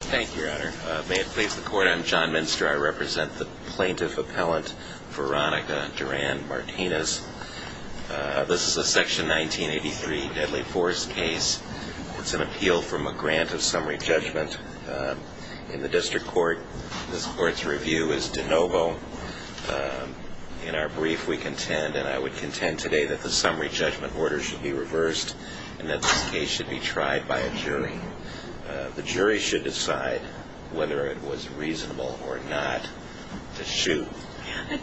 Thank you, Your Honor. May it please the Court, I'm John Minster. I represent the plaintiff appellant Veronica Duran Martinez. This is a Section 1983 deadly force case. It's an appeal from a grant of summary judgment in the District Court. This Court's review is de novo. In our brief, we contend, and I would contend today, that the summary judgment order should be reversed and that this case should be tried by a jury. The jury should decide whether it was reasonable or not to shoot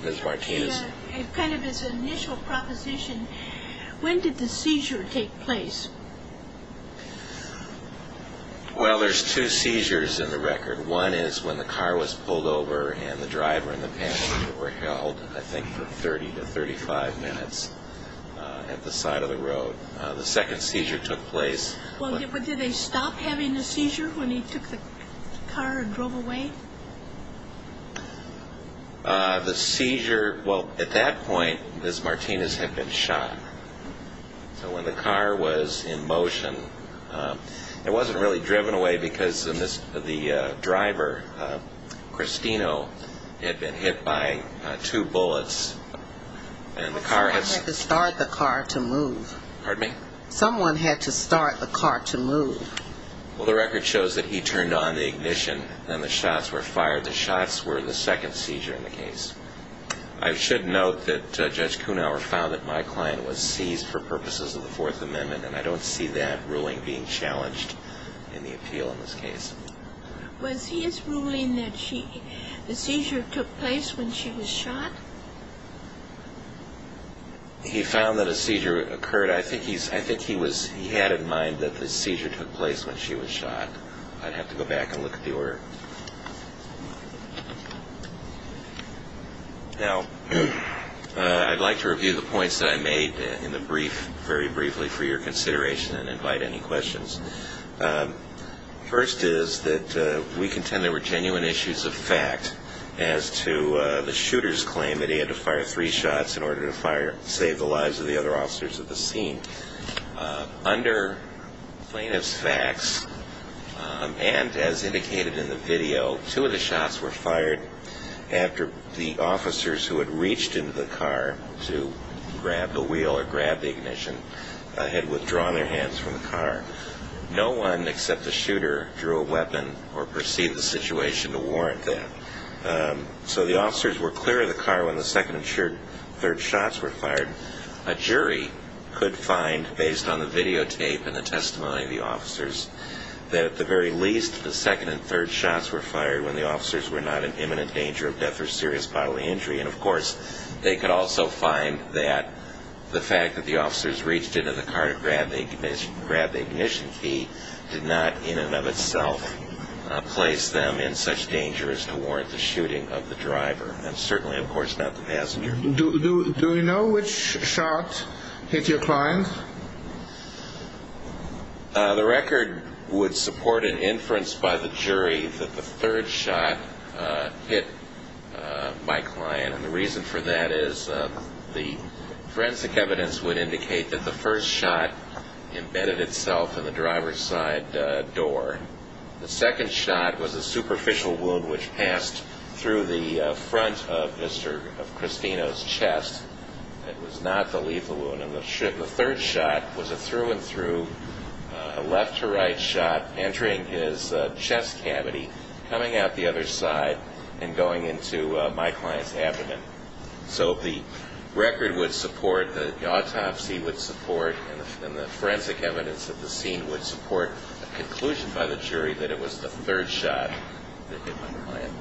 Ms. Martinez. Kind of as an initial proposition, when did the seizure take place? Well, there's two seizures in the record. One is when the car was pulled over and the driver and the passenger were held, I think, for 30 to 35 minutes at the side of the road. The second seizure took place. Well, did they stop having the seizure when he took the car and drove away? The seizure, well, at that point, Ms. Martinez had been shot. So when the car was in motion, it wasn't really driven away because the driver, Cristino, had been hit by two bullets and the car had... Someone had to start the car to move. Pardon me? Someone had to start the car to move. Well, the record shows that he turned on the ignition and the shots were fired. The shots were the second seizure in the case. I should note that Judge Kunauer found that my client was seized for purposes of the Fourth Amendment, and I don't see that ruling being challenged in the appeal in this case. Was his ruling that the seizure took place when she was shot? He found that a seizure occurred. I think he had in mind that the seizure took place when she was shot. I'd have to go back and look at the order. Now, I'd like to review the points that I made in the brief very briefly for your consideration and invite any questions. First is that we contend there were genuine issues of fact as to the shooter's claim that he had to fire three shots in order to save the lives of the other officers at the scene. Under plaintiff's facts and as indicated in the video, two of the shots were fired after the officers who had reached into the car to grab the wheel or grab the ignition had withdrawn their hands from the car. No one except the shooter drew a weapon or perceived the situation to warrant that. So the officers were clear of the car when the second and third shots were fired. A jury could find, based on the videotape and the testimony of the officers, that at the very least the second and third shots were fired when the officers were not in imminent danger of death or serious bodily injury. And, of course, they could also find that the fact that the officers reached into the car to grab the ignition key did not in and of itself place them in such danger as to warrant the shooting of the driver and certainly, of course, not the passenger. Do you know which shot hit your client? The record would support an inference by the jury that the third shot hit my client. And the reason for that is the forensic evidence would indicate that the first shot embedded itself in the driver's side door. The second shot was a superficial wound which passed through the front of Mr. Cristino's chest. It was not the lethal wound. And the third shot was a through and through, a left to right shot entering his chest cavity, coming out the other side, and going into my client's abdomen. So the record would support, the autopsy would support, and the forensic evidence of the scene would support a conclusion by the jury that it was the third shot that hit my client.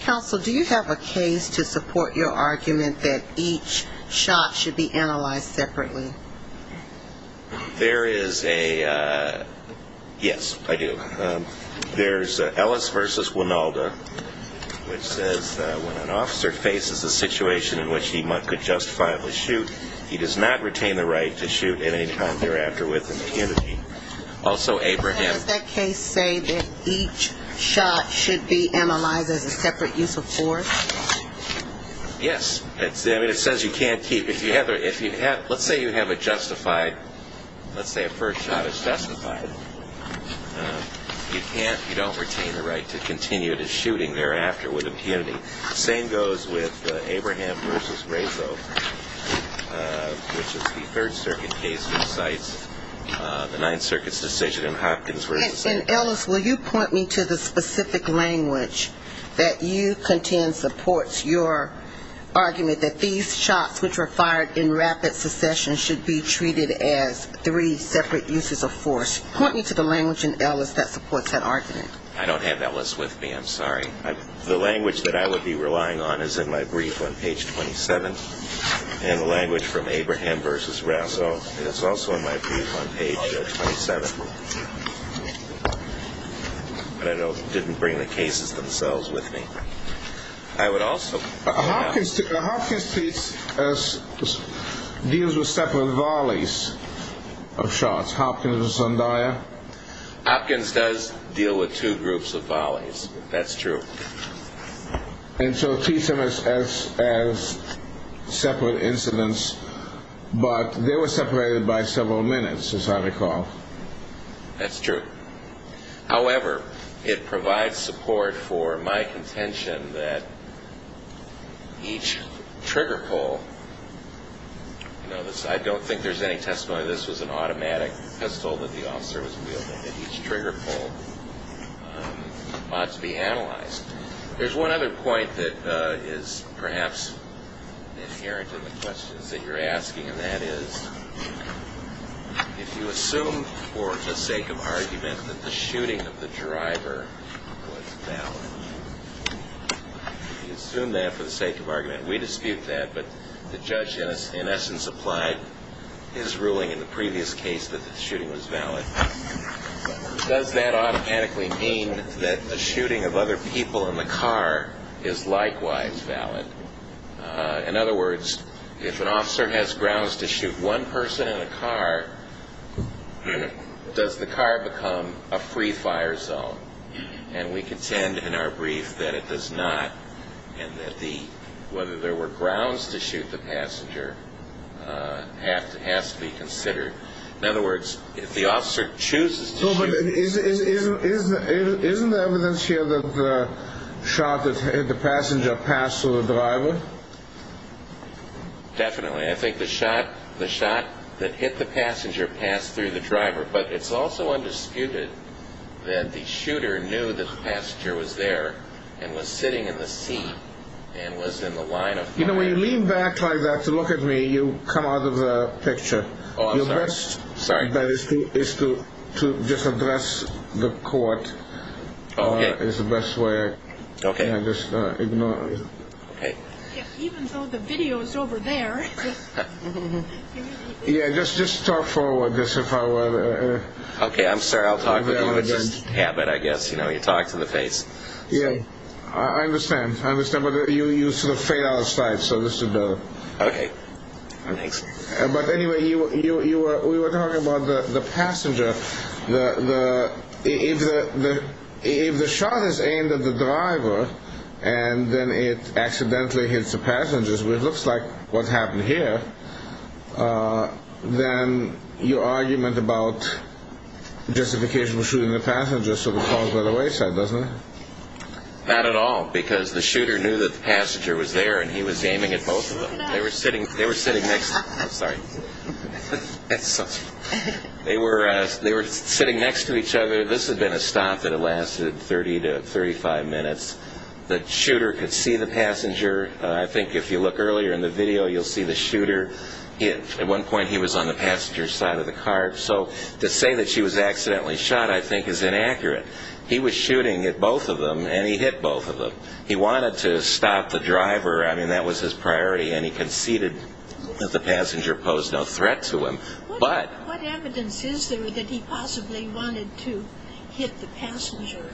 Counsel, do you have a case to support your argument that each shot should be analyzed separately? There is a, yes, I do. There's Ellis v. Wynalda, which says when an officer faces a situation in which he could justifiably shoot, he does not retain the right to shoot at any time thereafter with impunity. Also, Abraham. Does that case say that each shot should be analyzed as a separate use of force? Yes. I mean, it says you can't keep, if you have, let's say you have a justified, let's say a first shot is justified. You can't, you don't retain the right to continue the shooting thereafter with impunity. The same goes with Abraham v. Razo, which is the Third Circuit case that cites the Ninth Circuit's decision in Hopkins v. And, Ellis, will you point me to the specific language that you contend supports your argument that these shots, which were fired in rapid succession, should be treated as three separate uses of force? Point me to the language in Ellis that supports that argument. I don't have Ellis with me. I'm sorry. The language that I would be relying on is in my brief on page 27, and the language from Abraham v. Razo is also in my brief on page 27. But I don't know if they didn't bring the cases themselves with me. I would also... Hopkins treats as, deals with separate volleys of shots. Hopkins v. Zendaya. Hopkins does deal with two groups of volleys. That's true. And so it treats them as separate incidents, but they were separated by several minutes, as I recall. That's true. However, it provides support for my contention that each trigger pull... I don't think there's any testimony that this was an automatic pistol that the officer was wielding, that each trigger pull ought to be analyzed. There's one other point that is perhaps inherent in the questions that you're asking, and that is if you assume for the sake of argument that the shooting of the driver was valid. You assume that for the sake of argument. We dispute that, but the judge in essence applied his ruling in the previous case that the shooting was valid. Does that automatically mean that the shooting of other people in the car is likewise valid? In other words, if an officer has grounds to shoot one person in a car, does the car become a free-fire zone? And we contend in our brief that it does not, and that whether there were grounds to shoot the passenger has to be considered. In other words, if the officer chooses to shoot... No, but isn't there evidence here that the shot that hit the passenger passed through the driver? Definitely. I think the shot that hit the passenger passed through the driver, but it's also undisputed that the shooter knew that the passenger was there and was sitting in the seat and was in the line of fire. You know, when you lean back like that to look at me, you come out of the picture. Oh, I'm sorry. The best thing is to just address the court. Okay. It's the best way. Okay. Just ignore it. Okay. Even though the video is over there. Yeah, just talk forward. Okay, I'm sorry. I'll talk with you. It's just habit, I guess. You know, you talk to the face. Yeah, I understand. I understand, but you sort of fade out of sight, so this is better. Okay. Thanks. But anyway, we were talking about the passenger. If the shot is aimed at the driver and then it accidentally hits the passengers, which looks like what happened here, then your argument about justification for shooting the passenger sort of falls by the wayside, doesn't it? Not at all, because the shooter knew that the passenger was there and he was aiming at both of them. They were sitting next to each other. This had been a stop that had lasted 30 to 35 minutes. The shooter could see the passenger. I think if you look earlier in the video, you'll see the shooter. At one point, he was on the passenger's side of the car, so to say that she was accidentally shot, I think, is inaccurate. He was shooting at both of them, and he hit both of them. He wanted to stop the driver. I mean, that was his priority, and he conceded that the passenger posed no threat to him. What evidence is there that he possibly wanted to hit the passenger?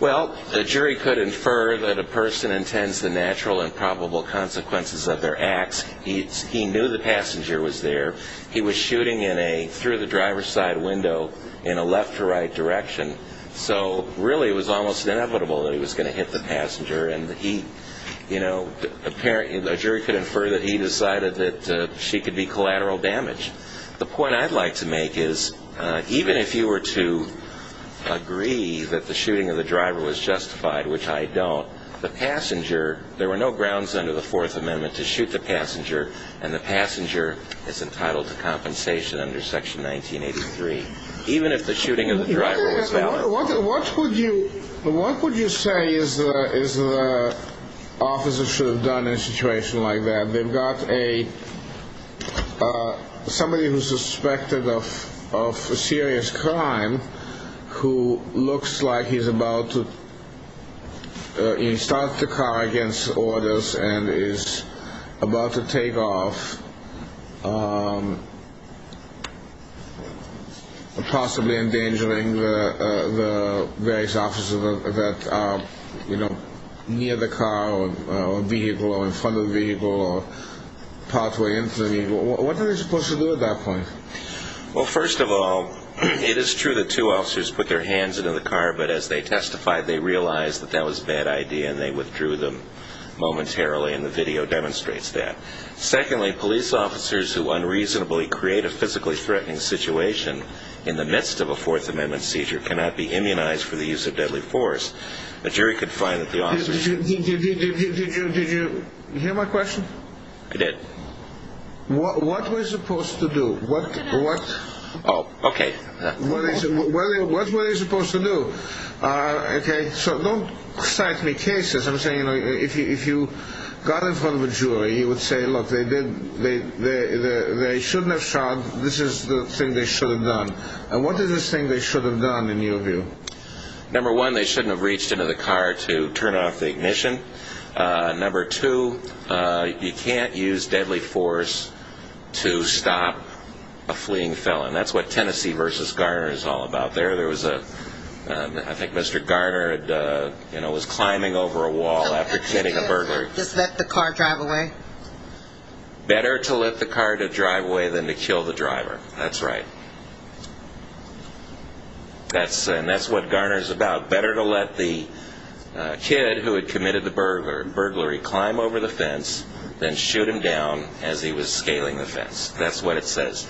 Well, the jury could infer that a person intends the natural and probable consequences of their acts. He knew the passenger was there. He was shooting through the driver's side window in a left-to-right direction, so really it was almost inevitable that he was going to hit the passenger, and a jury could infer that he decided that she could be collateral damage. The point I'd like to make is even if you were to agree that the shooting of the driver was justified, which I don't, the passenger, there were no grounds under the Fourth Amendment to shoot the passenger, and the passenger is entitled to compensation under Section 1983. Even if the shooting of the driver was valid. What would you say is the officer should have done in a situation like that? They've got somebody who's suspected of serious crime who looks like he's about to start the car against orders and is about to take off, possibly endangering the various officers that are near the car or vehicle or in front of the vehicle or partway into the vehicle. What are they supposed to do at that point? Well, first of all, it is true that two officers put their hands into the car, but as they testified, they realized that that was a bad idea and they withdrew them momentarily, and the video demonstrates that. Secondly, police officers who unreasonably create a physically threatening situation in the midst of a Fourth Amendment seizure cannot be immunized for the use of deadly force. The jury could find that the officer should... Did you hear my question? I did. What were they supposed to do? Oh, okay. What were they supposed to do? Okay, so don't cite me cases. I'm saying, you know, if you got in front of a jury, you would say, look, they shouldn't have shot. This is the thing they should have done. And what is this thing they should have done in your view? Number one, they shouldn't have reached into the car to turn off the ignition. Number two, you can't use deadly force to stop a fleeing felon. That's what Tennessee v. Garner is all about. There was a, I think Mr. Garner was climbing over a wall after killing a burglar. Just let the car drive away? Better to let the car to drive away than to kill the driver. That's right. And that's what Garner is about. Better to let the kid who had committed the burglary climb over the fence than shoot him down as he was scaling the fence. That's what it says.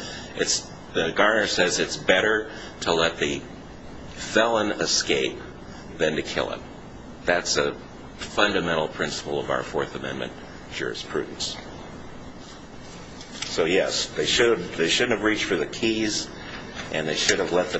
Garner says it's better to let the felon escape than to kill him. That's a fundamental principle of our Fourth Amendment jurisprudence. So, yes, they shouldn't have reached for the keys, and they should have let the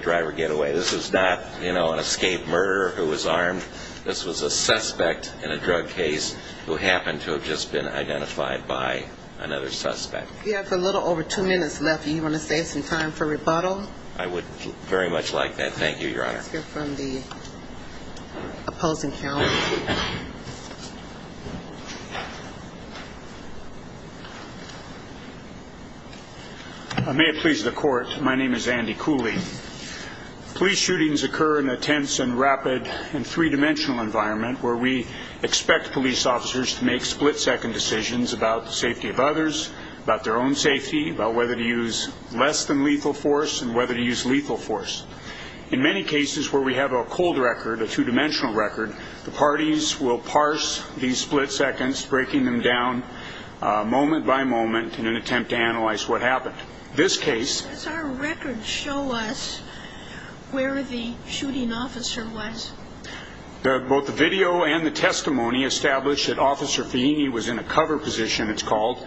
driver get away. This was not an escaped murderer who was armed. This was a suspect in a drug case who happened to have just been identified by another suspect. We have a little over two minutes left. Do you want to save some time for rebuttal? I would very much like that. Thank you, Your Honor. Let's hear from the opposing counsel. May it please the Court, my name is Andy Cooley. Police shootings occur in a tense and rapid and three-dimensional environment where we expect police officers to make split-second decisions about the safety of others, about their own safety, about whether to use less than lethal force and whether to use lethal force. In many cases where we have a cold record, a two-dimensional record, the parties will parse these split seconds, breaking them down moment by moment in an attempt to analyze what happened. Does our record show us where the shooting officer was? Both the video and the testimony establish that Officer Feeney was in a cover position, it's called,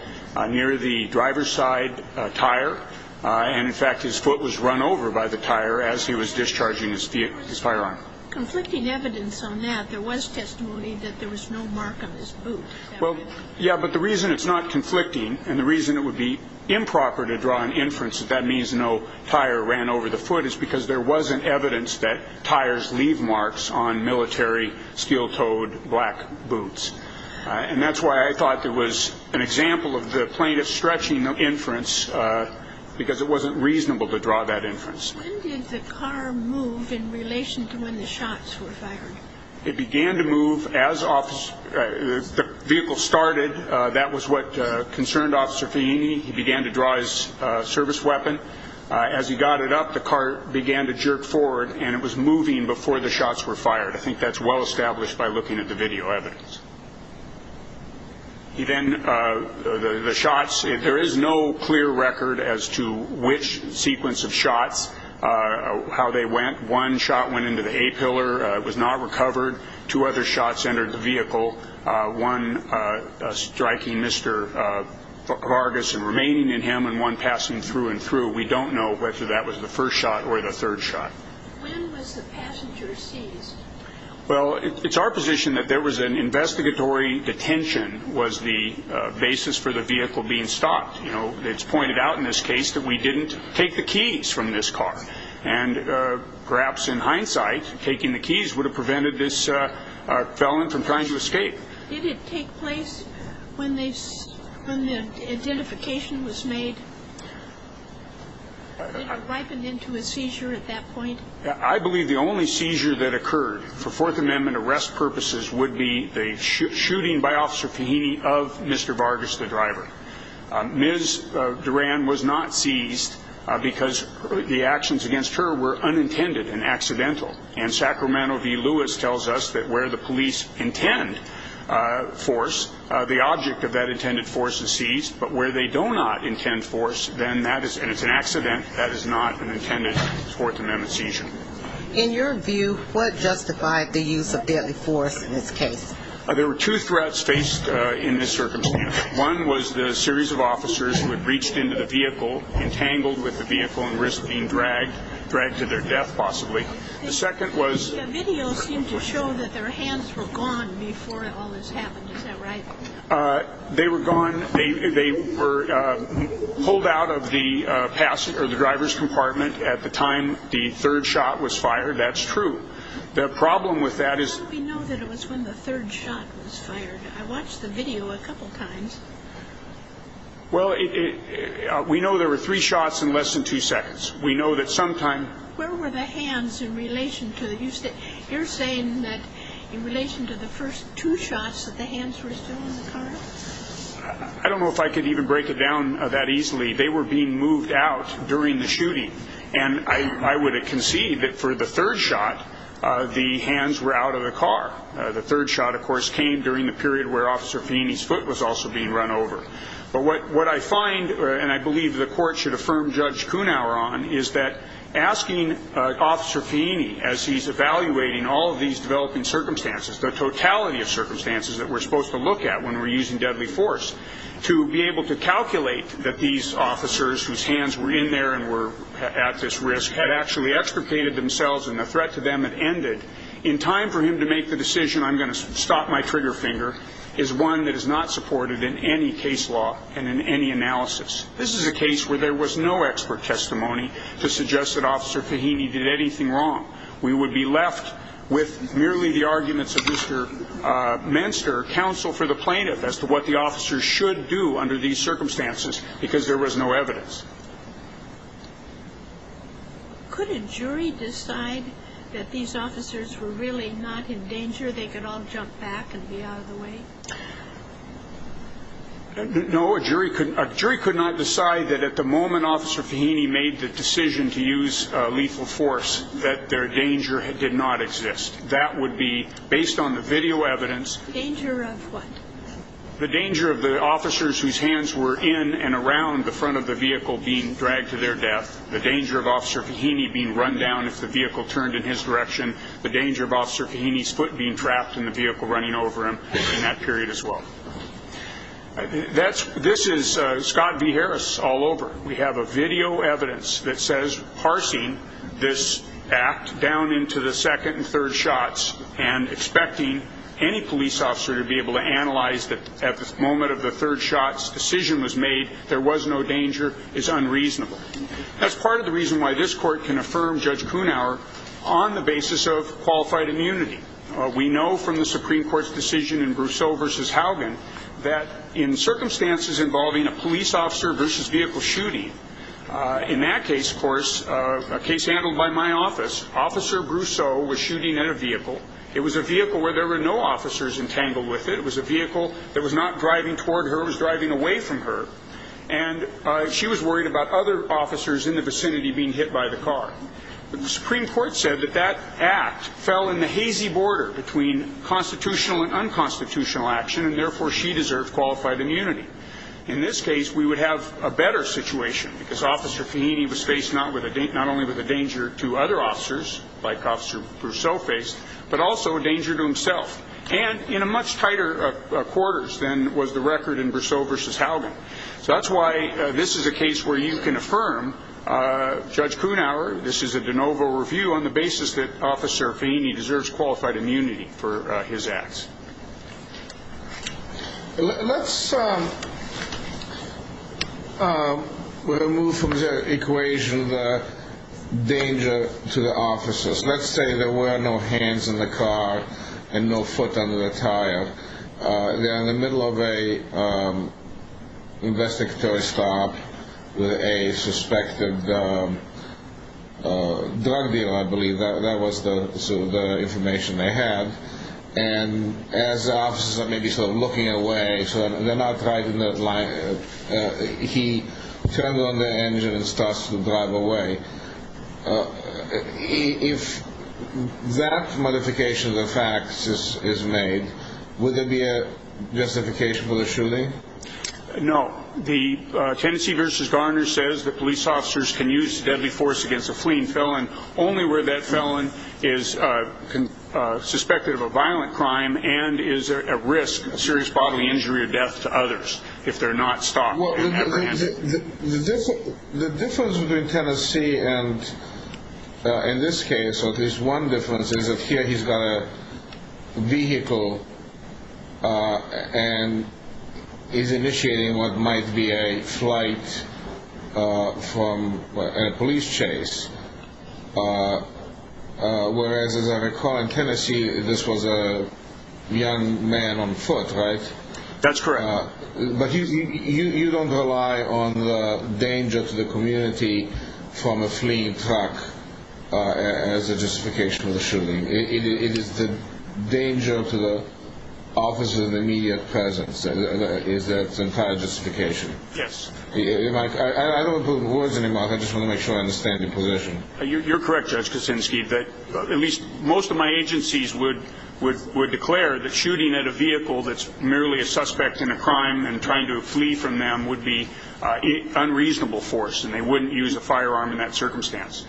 near the driver's side tire. In fact, his foot was run over by the tire as he was discharging his firearm. Conflicting evidence on that. There was testimony that there was no mark on his boot. Well, yeah, but the reason it's not conflicting and the reason it would be improper to draw an inference that that means no tire ran over the foot is because there wasn't evidence that tires leave marks on military steel-toed black boots. And that's why I thought there was an example of the plaintiff stretching the inference because it wasn't reasonable to draw that inference. When did the car move in relation to when the shots were fired? It began to move as the vehicle started. That was what concerned Officer Feeney. He began to draw his service weapon. As he got it up, the car began to jerk forward, and it was moving before the shots were fired. I think that's well established by looking at the video evidence. Then the shots, there is no clear record as to which sequence of shots, how they went. One shot went into the A pillar. It was not recovered. Two other shots entered the vehicle, one striking Mr. Vargas and remaining in him and one passing through and through. We don't know whether that was the first shot or the third shot. When was the passenger seized? Well, it's our position that there was an investigatory detention was the basis for the vehicle being stopped. It's pointed out in this case that we didn't take the keys from this car. Perhaps in hindsight, taking the keys would have prevented this felon from trying to escape. Did it take place when the identification was made? Did it ripen into a seizure at that point? I believe the only seizure that occurred for Fourth Amendment arrest purposes would be the shooting by Officer Feeney of Mr. Vargas, the driver. Ms. Duran was not seized because the actions against her were unintended and accidental. And Sacramento v. Lewis tells us that where the police intend force, the object of that intended force is seized. But where they do not intend force, and it's an accident, that is not an intended Fourth Amendment seizure. In your view, what justified the use of deadly force in this case? There were two threats faced in this circumstance. One was the series of officers who had reached into the vehicle, entangled with the vehicle and risked being dragged, dragged to their death possibly. The second was- The video seemed to show that their hands were gone before all this happened. Is that right? They were gone. They were pulled out of the driver's compartment at the time the third shot was fired. That's true. The problem with that is- How do we know that it was when the third shot was fired? I watched the video a couple times. Well, we know there were three shots in less than two seconds. We know that sometime- Where were the hands in relation to- You're saying that in relation to the first two shots that the hands were still in the car? I don't know if I could even break it down that easily. They were being moved out during the shooting. And I would concede that for the third shot, the hands were out of the car. The third shot, of course, came during the period where Officer Feeney's foot was also being run over. But what I find, and I believe the court should affirm Judge Kunaur on, is that asking Officer Feeney, as he's evaluating all of these developing circumstances, the totality of circumstances that we're supposed to look at when we're using deadly force, to be able to calculate that these officers, whose hands were in there and were at this risk, had actually extricated themselves and the threat to them had ended, in time for him to make the decision, I'm going to stop my trigger finger, is one that is not supported in any case law and in any analysis. This is a case where there was no expert testimony to suggest that Officer Feeney did anything wrong. We would be left with merely the arguments of Mr. Menster, counsel for the plaintiff, as to what the officers should do under these circumstances because there was no evidence. Could a jury decide that these officers were really not in danger, they could all jump back and be out of the way? No, a jury could not decide that at the moment Officer Feeney made the decision to use lethal force, that their danger did not exist. That would be based on the video evidence. The danger of what? The danger of the officers whose hands were in and around the front of the vehicle being dragged to their death, the danger of Officer Feeney being run down if the vehicle turned in his direction, the danger of Officer Feeney's foot being trapped in the vehicle running over him in that period as well. This is Scott V. Harris all over. We have a video evidence that says, parsing this act down into the second and third shots and expecting any police officer to be able to analyze that at the moment of the third shot's decision was made, there was no danger is unreasonable. That's part of the reason why this court can affirm Judge Kuhnauer on the basis of qualified immunity. We know from the Supreme Court's decision in Brousseau v. Haugen that in circumstances involving a police officer versus vehicle shooting, in that case, of course, a case handled by my office, Officer Brousseau was shooting at a vehicle. It was a vehicle where there were no officers entangled with it. It was a vehicle that was not driving toward her. It was driving away from her. And she was worried about other officers in the vicinity being hit by the car. The Supreme Court said that that act fell in the hazy border between constitutional and unconstitutional action, and therefore she deserved qualified immunity. In this case, we would have a better situation because Officer Feeney was faced not only with a danger to other officers, like Officer Brousseau faced, but also a danger to himself, and in a much tighter quarters than was the record in Brousseau v. Haugen. So that's why this is a case where you can affirm, Judge Kuhnauer, this is a de novo review on the basis that Officer Feeney deserves qualified immunity for his acts. Let's remove from the equation the danger to the officers. Let's say there were no hands in the car and no foot under the tire. They're in the middle of an investigatory stop with a suspected drug deal, I believe. That was the information they had. And as the officers are maybe sort of looking away, so they're not right in the line, he turned on the engine and starts to drive away. If that modification of the facts is made, would there be a justification for the shooting? No. Tennessee v. Garner says that police officers can use deadly force against a fleeing felon only where that felon is suspected of a violent crime and is at risk of serious bodily injury or death to others if they're not stopped. The difference between Tennessee and this case, or at least one difference, is that here he's got a vehicle and is initiating what might be a flight from a police chase, whereas as I recall in Tennessee this was a young man on foot, right? That's correct. But you don't rely on the danger to the community from a fleeing truck as a justification for the shooting. It is the danger to the officers' immediate presence is that entire justification. Yes. I don't want to put words in your mouth. I just want to make sure I understand your position. You're correct, Judge Kuczynski, that at least most of my agencies would declare that shooting at a vehicle that's merely a suspect in a crime and trying to flee from them would be unreasonable force, and they wouldn't use a firearm in that circumstance.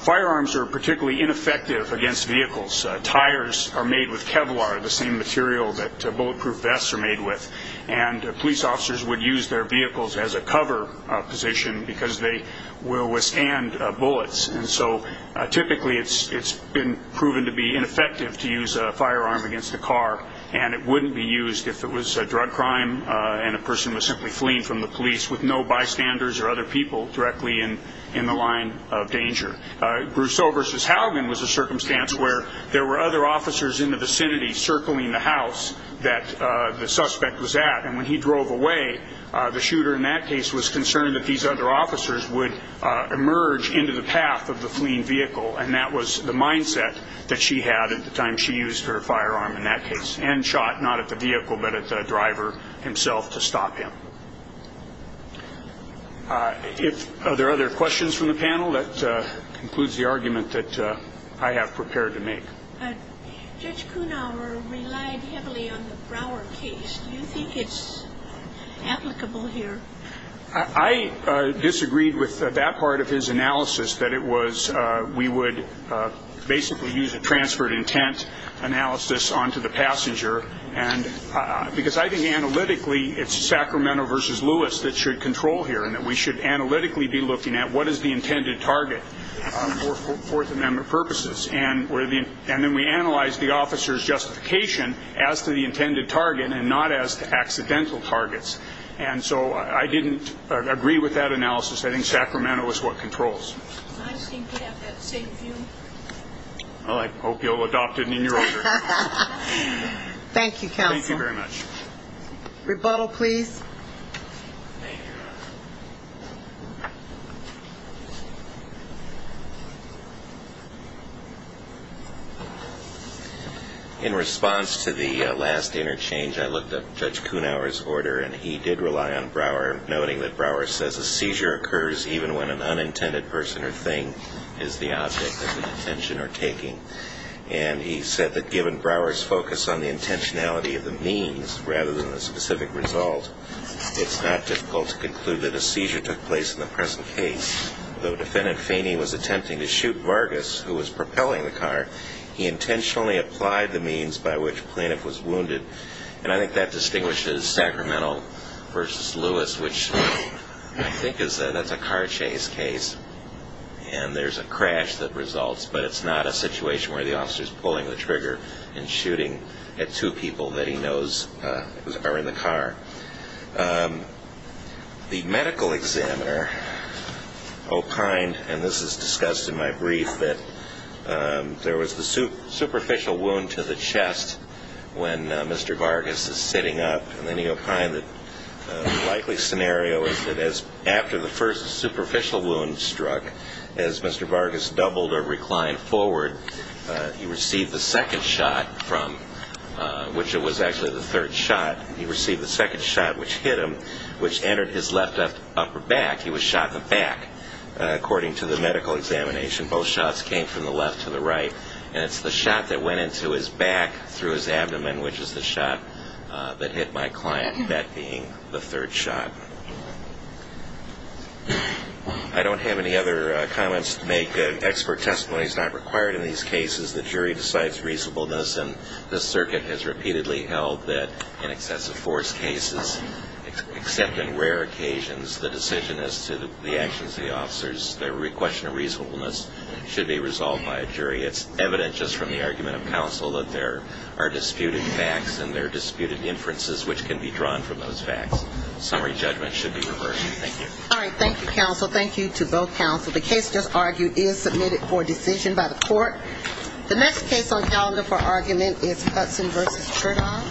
Firearms are particularly ineffective against vehicles. Tires are made with Kevlar, the same material that bulletproof vests are made with, and police officers would use their vehicles as a cover position because they will withstand bullets. And so typically it's been proven to be ineffective to use a firearm against a car, and it wouldn't be used if it was a drug crime and a person was simply fleeing from the police with no bystanders or other people directly in the line of danger. Brousseau v. Haugen was a circumstance where there were other officers in the vicinity circling the house that the suspect was at, and when he drove away, the shooter in that case was concerned that these other officers would emerge into the path of the fleeing vehicle, and that was the mindset that she had at the time she used her firearm in that case and shot not at the vehicle but at the driver himself to stop him. Are there other questions from the panel? That concludes the argument that I have prepared to make. Judge Kuhnhauer relied heavily on the Brouwer case. Do you think it's applicable here? I disagreed with that part of his analysis, that we would basically use a transferred intent analysis onto the passenger because I think analytically it's Sacramento v. Lewis that should control here and that we should analytically be looking at what is the intended target for Fourth Amendment purposes and then we analyze the officer's justification as to the intended target and not as to accidental targets. And so I didn't agree with that analysis. I think Sacramento is what controls. I just think we have that same view. Well, I hope you'll adopt it in your own direction. Thank you, counsel. Thank you very much. Rebuttal, please. Thank you. In response to the last interchange, I looked up Judge Kuhnhauer's order, and he did rely on Brouwer, noting that Brouwer says a seizure occurs even when an unintended person or thing is the object that the detention are taking. And he said that given Brouwer's focus on the intentionality of the means rather than the specific result, it's not difficult to conclude that a seizure took place in the present case. The defendant, Feeney, was attempting to shoot Vargas, who was propelling the car. He intentionally applied the means by which the plaintiff was wounded, and I think that distinguishes Sacramento versus Lewis, which I think is that that's a car chase case, and there's a crash that results, but it's not a situation where the officer's pulling the trigger and shooting at two people that he knows are in the car. The medical examiner opined, and this is discussed in my brief, that there was the superficial wound to the chest when Mr. Vargas is sitting up, and then he opined that the likely scenario is that after the first superficial wound struck, as Mr. Vargas doubled or reclined forward, he received the second shot from which it was actually the third shot. He received the second shot, which hit him, which entered his left upper back. He was shot in the back, according to the medical examination. Both shots came from the left to the right, and it's the shot that went into his back through his abdomen, which is the shot that hit my client, that being the third shot. I don't have any other comments to make. Expert testimony is not required in these cases. The jury decides reasonableness, and the circuit has repeatedly held that in excessive force cases, except in rare occasions, the decision as to the actions of the officers, the question of reasonableness should be resolved by a jury. It's evident just from the argument of counsel that there are disputed facts and there are disputed inferences which can be drawn from those facts. Summary judgment should be reversed. Thank you. All right. Thank you, counsel. Thank you to both counsel. The case just argued is submitted for decision by the court. The next case on calendar for argument is Hudson v. Trigon.